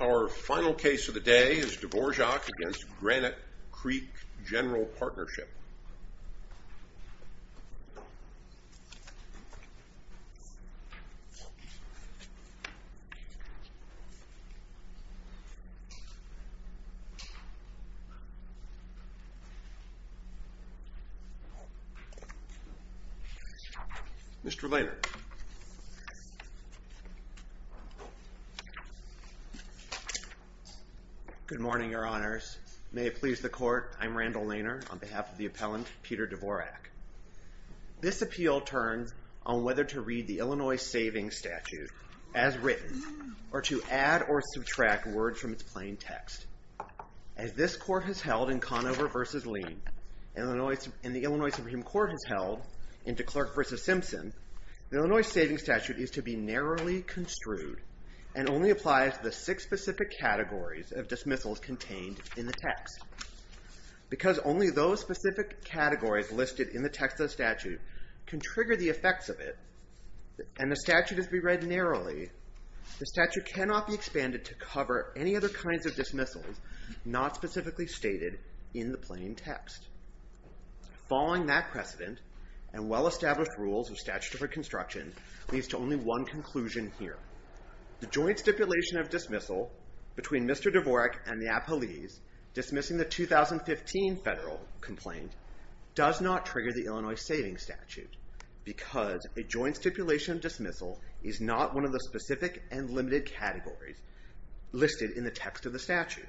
Our final case of the day is Dvorak v. Granite Creek GP. Mr. Lainer. Good morning, Your Honors. May it please the Court, I'm Randall Lainer on behalf of the appellant, Peter Dvorak. This appeal turns on whether to read the Illinois Savings Statute as written or to add or subtract words from its plain text. As this Court has held in Conover v. Lean and the Illinois Supreme Court has held in DeClerk v. Simpson, the Illinois Savings Statute is to be narrowly construed and only applies to the six specific categories of dismissals contained in the text. Because only those specific categories listed in the text of the statute can trigger the effects of it and the statute is to be read narrowly, the statute cannot be expanded to cover any other kinds of dismissals not specifically stated in the plain text. Following that precedent and well-established rules of statutory construction leads to only one conclusion here. The joint stipulation of dismissal between Mr. Dvorak and the appellees dismissing the 2015 federal complaint does not trigger the Illinois Savings Statute because a joint stipulation of dismissal is not one of the specific and limited categories listed in the text of the statute.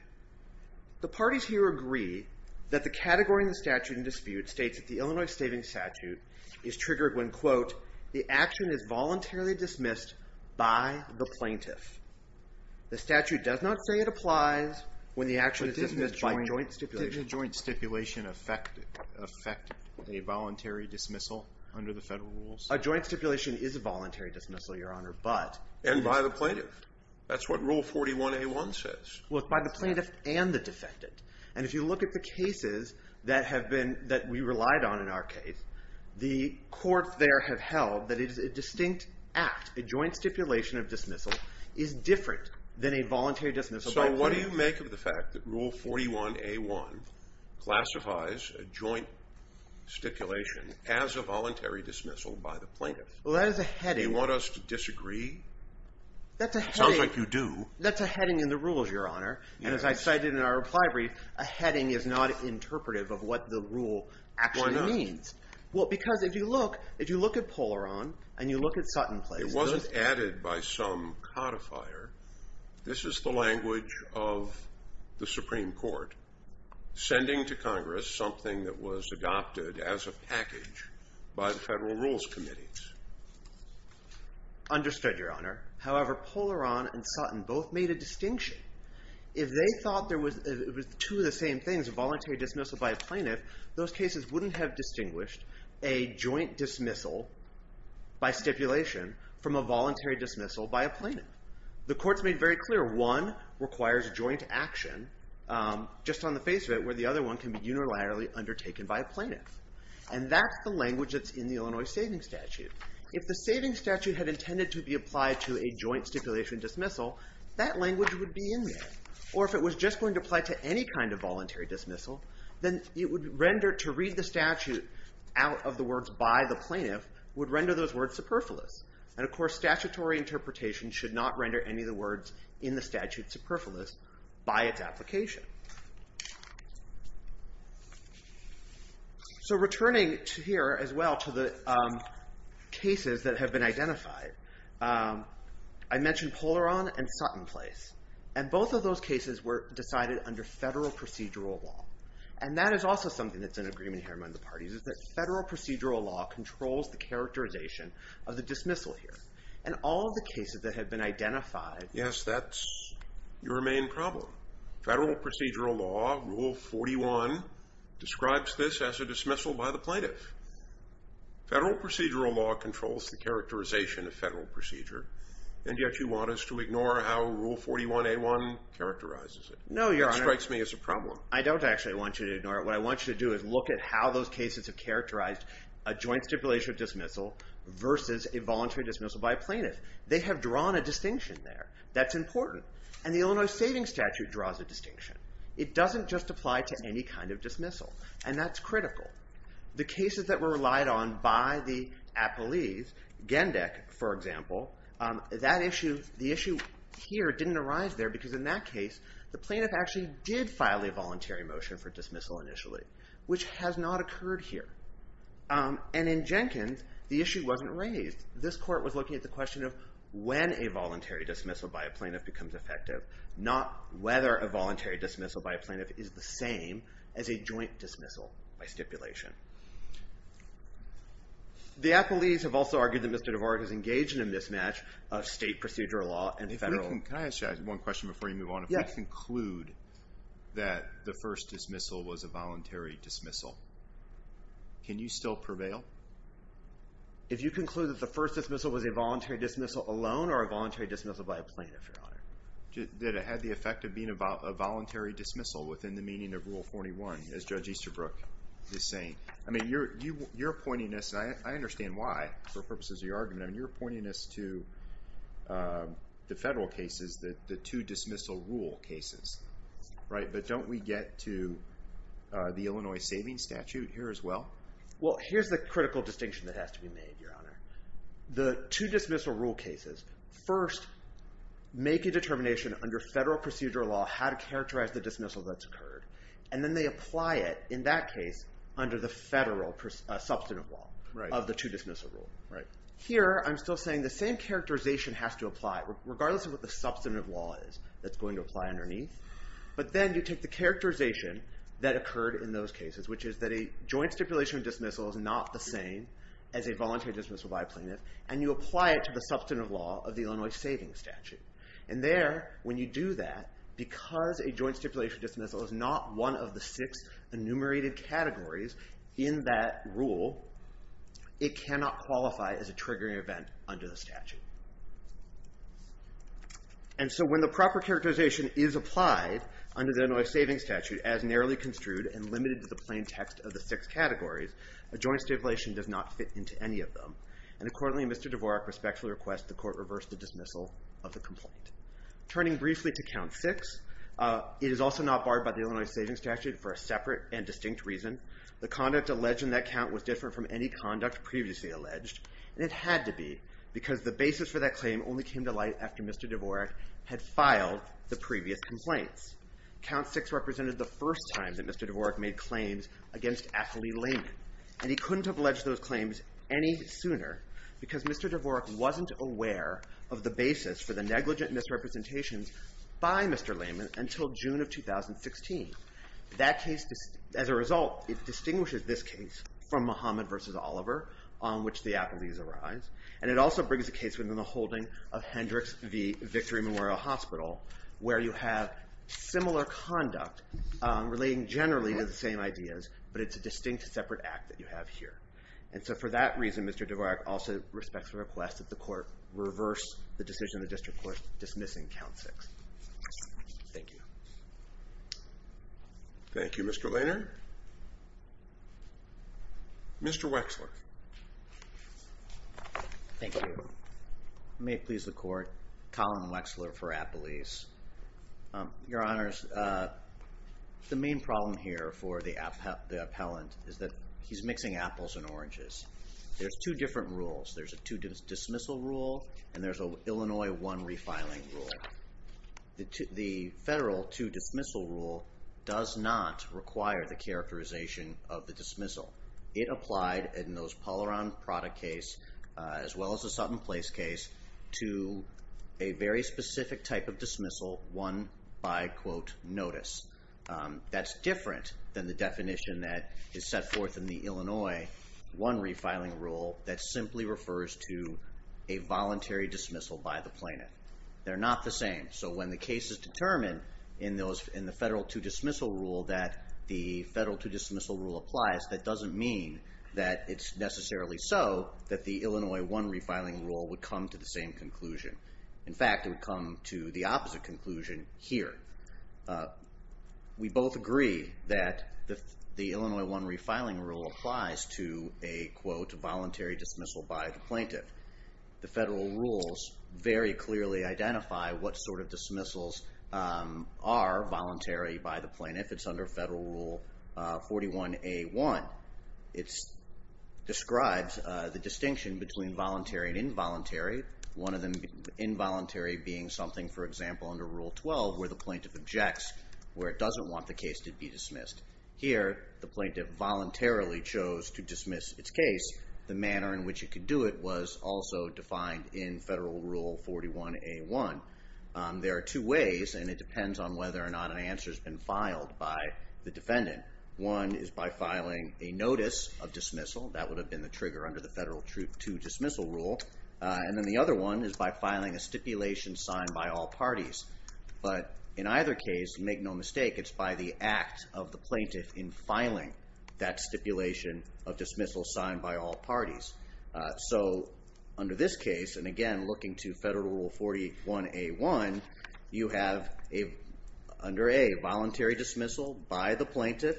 The parties here agree that the category in the statute in dispute states that the Illinois Savings Statute is voluntarily dismissed by the plaintiff. The statute does not say it applies when the action is dismissed by joint stipulation. But doesn't a joint stipulation affect a voluntary dismissal under the federal rules? A joint stipulation is a voluntary dismissal, Your Honor, but And by the plaintiff. That's what Rule 41A1 says. Well, it's by the plaintiff and the defendant. And if you look at the cases that have been, that we relied on in our case, the courts there have held that it is a distinct act, a joint stipulation of dismissal is different than a voluntary dismissal by the plaintiff. So what do you make of the fact that Rule 41A1 classifies a joint stipulation as a voluntary dismissal by the plaintiff? Well, that is a heading. Do you want us to disagree? That's a heading. It sounds like you do. That's a heading in the rules, Your Honor. And as I cited in our reply brief, a heading is not interpretive of what the rule actually means. Why not? Well, because if you look, if you look at Polaron and you look at Sutton places It wasn't added by some codifier. This is the language of the Supreme Court, sending to Congress something that was adopted as a package by the Federal Rules Committee. Understood, Your Honor. However, Polaron and Sutton both made a distinction. If they thought there was two of the same things, a voluntary dismissal by a plaintiff, those cases wouldn't have distinguished a joint dismissal by stipulation from a voluntary dismissal by a plaintiff. The Court's made very clear one requires joint action just on the face of it where the other one can be unilaterally undertaken by a plaintiff. And that's the language that's in the Illinois Saving Statute. If the Saving Statute had intended to be applied to a joint stipulation dismissal, that language would be in there. Or if it was just going to apply to any kind of voluntary dismissal, then it would render to read the statute out of the words by the plaintiff would render those words superfluous. And of course, statutory interpretation should not render any of the words in the statute superfluous by its application. So returning to here as well to the cases that have been identified, I mentioned Polaron and Sutton place. And both of those cases were decided under federal procedural law. And that is also something that's an agreement here among the parties is that federal procedural law controls the characterization of the dismissal here. And all of the cases that have been identified. Yes, that's your main problem. Federal procedural law, Rule 41, describes this as a dismissal by the plaintiff. Federal procedural law controls the characterization of federal procedure. And yet you want us to ignore how Rule 41A1 characterizes it. No, Your Honor. It strikes me as a problem. I don't actually want you to ignore it. What I want you to do is look at how those cases have characterized a joint stipulation dismissal versus a voluntary dismissal by a plaintiff. They have drawn a distinction there. That's important. And the Illinois Savings Statute draws a distinction. It doesn't just apply to any kind of dismissal. And that's critical. The cases that were relied on by the appellees, Gendek, for example, the issue here didn't arise there because in that case, the plaintiff actually did file a voluntary motion for dismissal initially, which has not occurred here. And in Jenkins, the issue wasn't raised. This court was looking at the question of when a voluntary dismissal by a plaintiff becomes effective, not whether a voluntary dismissal by a plaintiff is the same as a stipulation. The appellees have also argued that Mr. DeVore has engaged in a mismatch of state procedural law and federal. Can I ask you one question before you move on? Yes. If we conclude that the first dismissal was a voluntary dismissal, can you still prevail? If you conclude that the first dismissal was a voluntary dismissal alone or a voluntary dismissal by a plaintiff, Your Honor? That it had the effect of being a voluntary dismissal within the meaning of Rule 41, as you're saying. I mean, you're pointing us, and I understand why for purposes of your argument, I mean, you're pointing us to the federal cases, the two dismissal rule cases, right? But don't we get to the Illinois Savings Statute here as well? Well, here's the critical distinction that has to be made, Your Honor. The two dismissal rule cases first make a determination under federal procedural law how to characterize the dismissal that's occurred. And then they apply it, in that case, under the federal substantive law of the two dismissal rule. Here, I'm still saying the same characterization has to apply regardless of what the substantive law is that's going to apply underneath. But then you take the characterization that occurred in those cases, which is that a joint stipulation of dismissal is not the same as a voluntary dismissal by a plaintiff, and you apply it to the substantive law of the Illinois Savings Statute. And there, when you do that, because a joint stipulation dismissal is not one of the six enumerated categories in that rule, it cannot qualify as a triggering event under the statute. And so when the proper characterization is applied under the Illinois Savings Statute as narrowly construed and limited to the plain text of the six categories, a joint stipulation does not fit into any of them. And accordingly, Mr. Dvorak respectfully requests the court reverse the dismissal of the complaint. Turning briefly to count six, it is also not barred by the Illinois Savings Statute for a separate and distinct reason. The conduct alleged in that count was different from any conduct previously alleged, and it had to be, because the basis for that claim only came to light after Mr. Dvorak had filed the previous complaints. Count six represented the first time that Mr. Dvorak made claims against Athalee Layman, and he couldn't have alleged those claims any sooner, because Mr. Dvorak wasn't aware of the basis for the negligent misrepresentations by Mr. Layman until June of 2016. That case, as a result, it distinguishes this case from Muhammad v. Oliver, on which the Athalees arise, and it also brings a case within the holding of Hendricks v. Victory Memorial Hospital, where you have similar conduct relating generally to the same ideas, but it's a distinct separate act that you have here. And so for that reason, Mr. Dvorak also respects the request that the court reverse the decision of the district court dismissing count six. Thank you. Thank you, Mr. Lehner. Mr. Wexler. Thank you. May it please the court, Colin Wexler for Athalees. Your Honors, the main problem here for the appellant is that he's mixing apples and oranges. There's two different rules. There's a two-dismissal rule, and there's a Illinois one-refiling rule. The federal two-dismissal rule does not require the characterization of the dismissal. It applied in those Polaron-Prada case, as well as the Sutton Place case, to a very specific type of dismissal, one by, quote, notice. That's different than the definition that is set forth in the Illinois one-refiling rule that simply refers to a voluntary dismissal by the plaintiff. They're not the same. So when the case is determined in the federal two-dismissal rule that the federal two-dismissal rule applies, that doesn't mean that it's necessarily so that the Illinois one-refiling rule would come to the same conclusion. In fact, it would come to the opposite conclusion here. We both agree that the Illinois one-refiling rule applies to a, quote, voluntary dismissal by the plaintiff. The federal rules very clearly identify what sort of dismissals are voluntary by the plaintiff. It's under Federal Rule 41A1. It describes the distinction between voluntary and involuntary. One of them involuntary being something, for example, under Rule 12 where the plaintiff objects, where it doesn't want the case to be dismissed. Here, the plaintiff voluntarily chose to dismiss its case. The manner in which it could do it was also defined in Federal Rule 41A1. There are two ways, and it depends on whether or not an answer has been filed by the defendant. One is by filing a notice of dismissal. That would have been the trigger under the Federal two-dismissal rule. Then the other one is by filing a stipulation signed by all parties. In either case, make no mistake, it's by the act of the plaintiff in filing that stipulation of dismissal signed by all parties. Under this case, and again looking to Federal Rule 41A1, you have under A, voluntary dismissal by the plaintiff,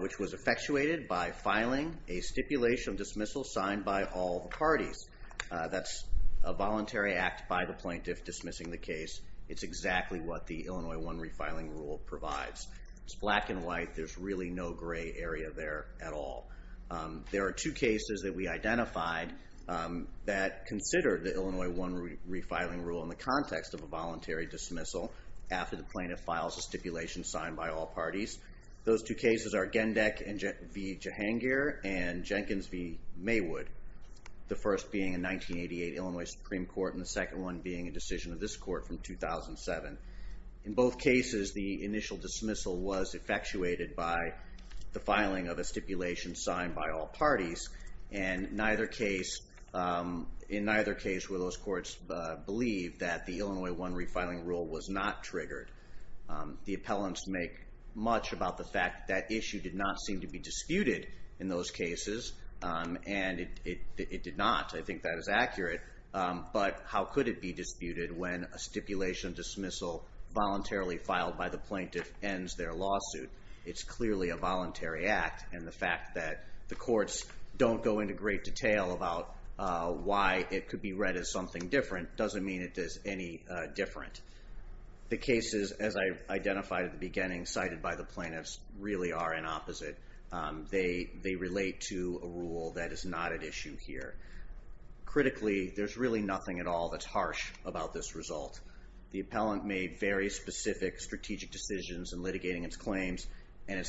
which was effectuated by filing a stipulation of dismissal signed by all the parties. That's a voluntary act by the plaintiff dismissing the case. It's exactly what the Illinois One Refiling Rule provides. It's black and white. There's really no gray area there at all. There are two cases that we identified that consider the Illinois One Refiling Rule in the context of a voluntary dismissal after the plaintiff files a stipulation signed by all parties. Those two cases are Gendek v. Jahangir and Jenkins v. Maywood. The first being a 1988 Illinois Supreme Court, and the second one being a decision of this court from 2007. In both cases, the initial dismissal was effectuated by the filing of a stipulation signed by all parties. The Illinois One Refiling Rule was not triggered. The appellants make much about the fact that issue did not seem to be disputed in those cases, and it did not. I think that is accurate, but how could it be disputed when a stipulation dismissal voluntarily filed by the plaintiff ends their lawsuit? It's clearly a voluntary act, and the fact that the courts don't go into great detail about why it could be read as something different doesn't mean it is any different. The cases, as I identified at the beginning, cited by the plaintiffs, really are an opposite. They relate to a rule that is not at issue here. Critically, there's really nothing at all that's harsh about this result. The appellant made very specific strategic decisions in litigating its claims, and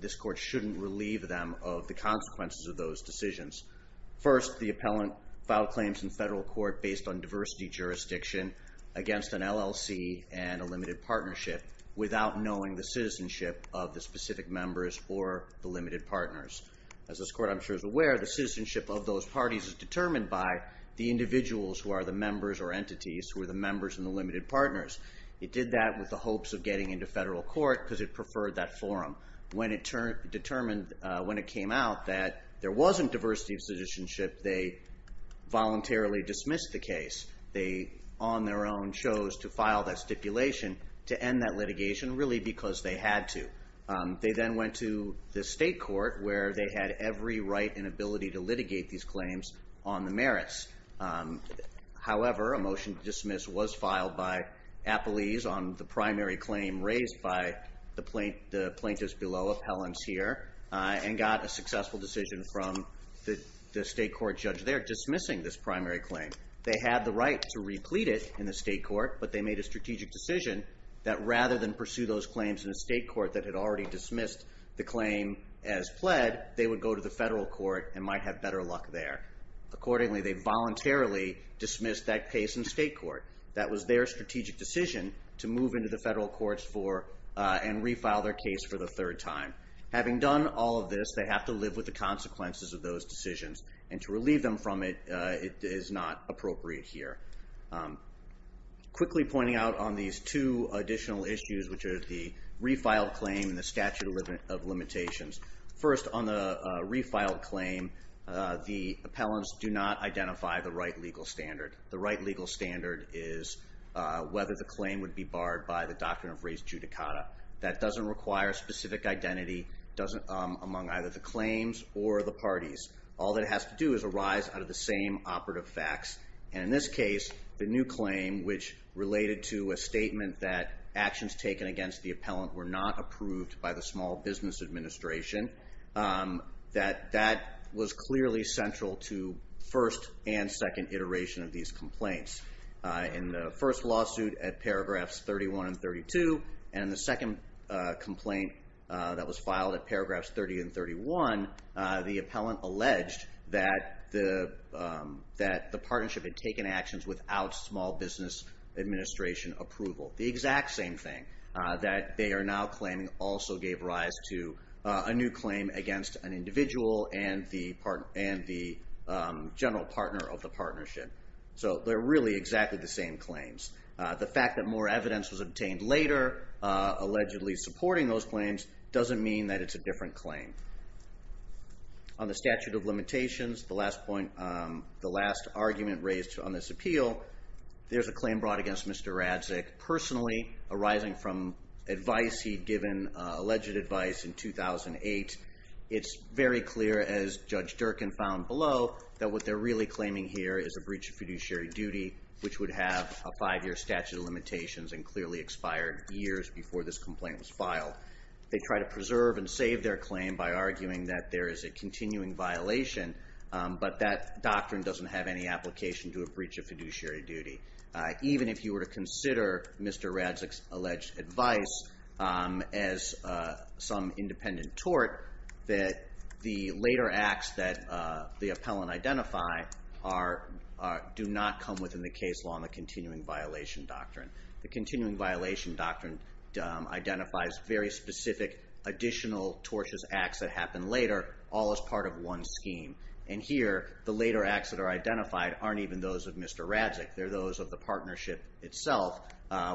this court shouldn't relieve them of the consequences of those decisions. First, the appellant filed claims in federal court based on diversity jurisdiction against an LLC and a limited partnership without knowing the citizenship of the specific members or the limited partners. As this court, I'm sure, is aware, the citizenship of those parties is determined by the individuals who are the members or entities who are the members and the limited partners. It did that with the hopes of getting into federal court because it preferred that forum. When it came out that there wasn't diversity of citizenship, they voluntarily dismissed the case. They, on their own, chose to file that stipulation to end that litigation, really because they had to. They then went to the state court where they had every right and ability to litigate these claims on the merits. However, a motion to dismiss was filed by appellees on the primary claim raised by the plaintiffs below, appellants here, and got a successful decision from the state court judge there dismissing this primary claim. They had the right to replete it in the state court, but they made a strategic decision that rather than pursue those claims in a state court that had already dismissed the claim as pled, they would go to the federal court and might have better luck there. Accordingly, they voluntarily dismissed that case in state court. That was their strategic decision to move into the federal courts and refile their case for the third time. Having done all of this, they have to live with the consequences of those decisions, and to relieve them from it is not appropriate here. Quickly pointing out on these two additional issues, which are the refiled claim and the statute of limitations. First on the refiled claim, the appellants do not identify the right legal standard. The right legal standard is whether the claim would be barred by the doctrine of res judicata. That doesn't require specific identity among either the claims or the parties. All it has to do is arise out of the same operative facts, and in this case, the new claim which related to a statement that actions taken against the appellant were not approved by the Small Business Administration. That was clearly central to first and second iteration of these complaints. In the first lawsuit at paragraphs 31 and 32, and the second complaint that was filed at paragraphs 30 and 31, the appellant alleged that the partnership had taken actions without Small Business Administration approval. The exact same thing, that they are now claiming also gave rise to a new claim against an individual and the general partner of the partnership. So they're really exactly the same claims. The fact that more evidence was obtained later, allegedly supporting those claims, doesn't mean that it's a different claim. On the statute of limitations, the last point, the last argument raised on this appeal, there's a claim brought against Mr. Radzic personally, arising from advice he'd given, alleged advice in 2008. It's very clear, as Judge Durkin found below, that what they're really claiming here is a breach of fiduciary duty, which would have a five-year statute of limitations and clearly expired years before this complaint was filed. They try to preserve and save their claim by arguing that there is a continuing violation, but that doctrine doesn't have any application to a breach of fiduciary duty. Even if you were to consider Mr. Radzic's alleged advice as some independent tort, that the later acts that the appellant identified do not come within the case law in the continuing violation doctrine. The continuing violation doctrine identifies very specific additional tortious acts that happen later, all as part of one scheme. And here, the later acts that are identified aren't even those of Mr. Radzic. They're those of the partnership itself,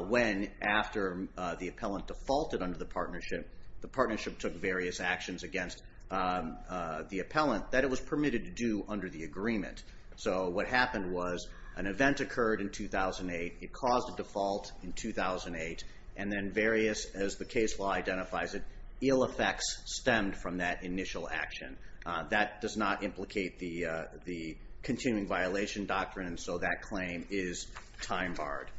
when after the appellant defaulted under the partnership, the partnership took various actions against the appellant that it was permitted to do under the agreement. So what happened was, an event occurred in 2008, it caused a default in 2008, and then various, as the case law identifies it, ill effects stemmed from that initial action. That does not implicate the continuing violation doctrine, and so that claim is time barred.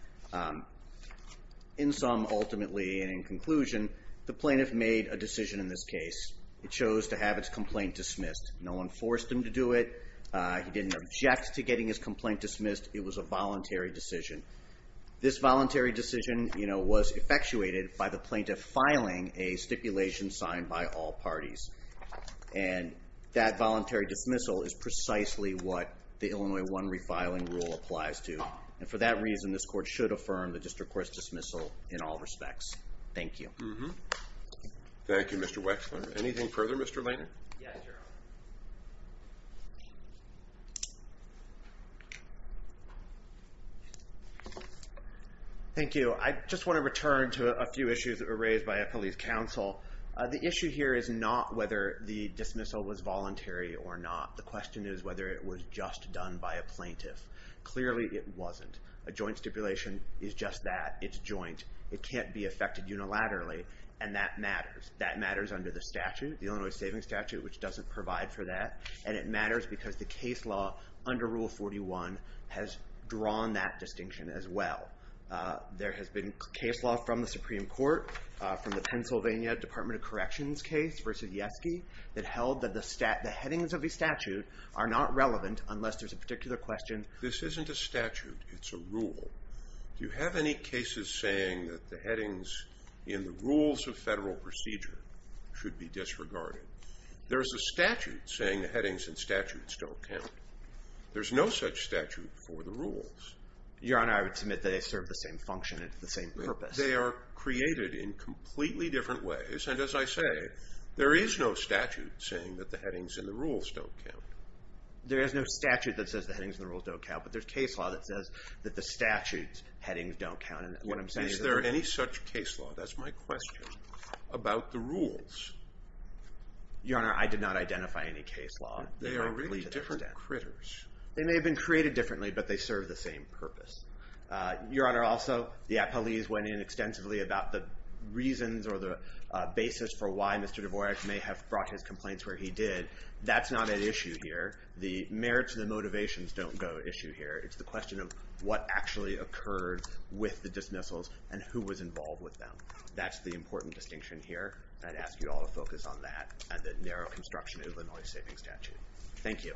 In sum, ultimately, and in conclusion, the plaintiff made a decision in this case. It chose to have its complaint dismissed. No one forced him to do it. He didn't object to getting his complaint dismissed. It was a voluntary decision. This voluntary decision was effectuated by the plaintiff filing a stipulation signed by all parties. And that voluntary dismissal is precisely what the Illinois 1 refiling rule applies to. And for that reason, this court should affirm the district court's dismissal in all respects. Thank you. Thank you, Mr. Wexler. Anything further, Mr. Leighton? Thank you. I just want to return to a few issues that were raised by a police counsel. The issue here is not whether the dismissal was voluntary or not. The question is whether it was just done by a plaintiff. Clearly, it wasn't. A joint stipulation is just that. It's joint. It can't be effected unilaterally, and that matters. That matters under the statute, the Illinois Saving Statute, which doesn't provide for that. And it matters because the case law under Rule 41 has drawn that distinction as well. There has been case law from the Supreme Court, from the Pennsylvania Department of Corrections case versus Yeske, that held that the headings of the statute are not relevant unless there's a particular question. This isn't a statute. It's a rule. Do you have any cases saying that the headings in the rules of federal procedure should be disregarded? There is a statute saying the headings in statutes don't count. There's no such statute for the rules. Your Honor, I would submit that they serve the same function and the same purpose. They are created in completely different ways, and as I say, there is no statute saying that the headings in the rules don't count. There is no statute that says the headings in the rules don't count, but there's case law that says that the statute's headings don't count. And what I'm saying is that... Is there any such case law, that's my question, about the rules? Your Honor, I did not identify any case law. They are really different critters. They may have been created differently, but they serve the same purpose. Your Honor, also, the appellees went in extensively about the reasons or the basis for why Mr. Dvorak may have brought his complaints where he did. That's not at issue here. The merits and the motivations don't go at issue here. It's the question of what actually occurred with the dismissals and who was involved with them. That's the important distinction here. I'd ask you all to focus on that and the narrow construction of a noise-saving statute. Thank you.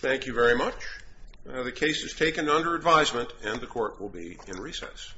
Thank you very much. The case is taken under advisement, and the court will be in recess.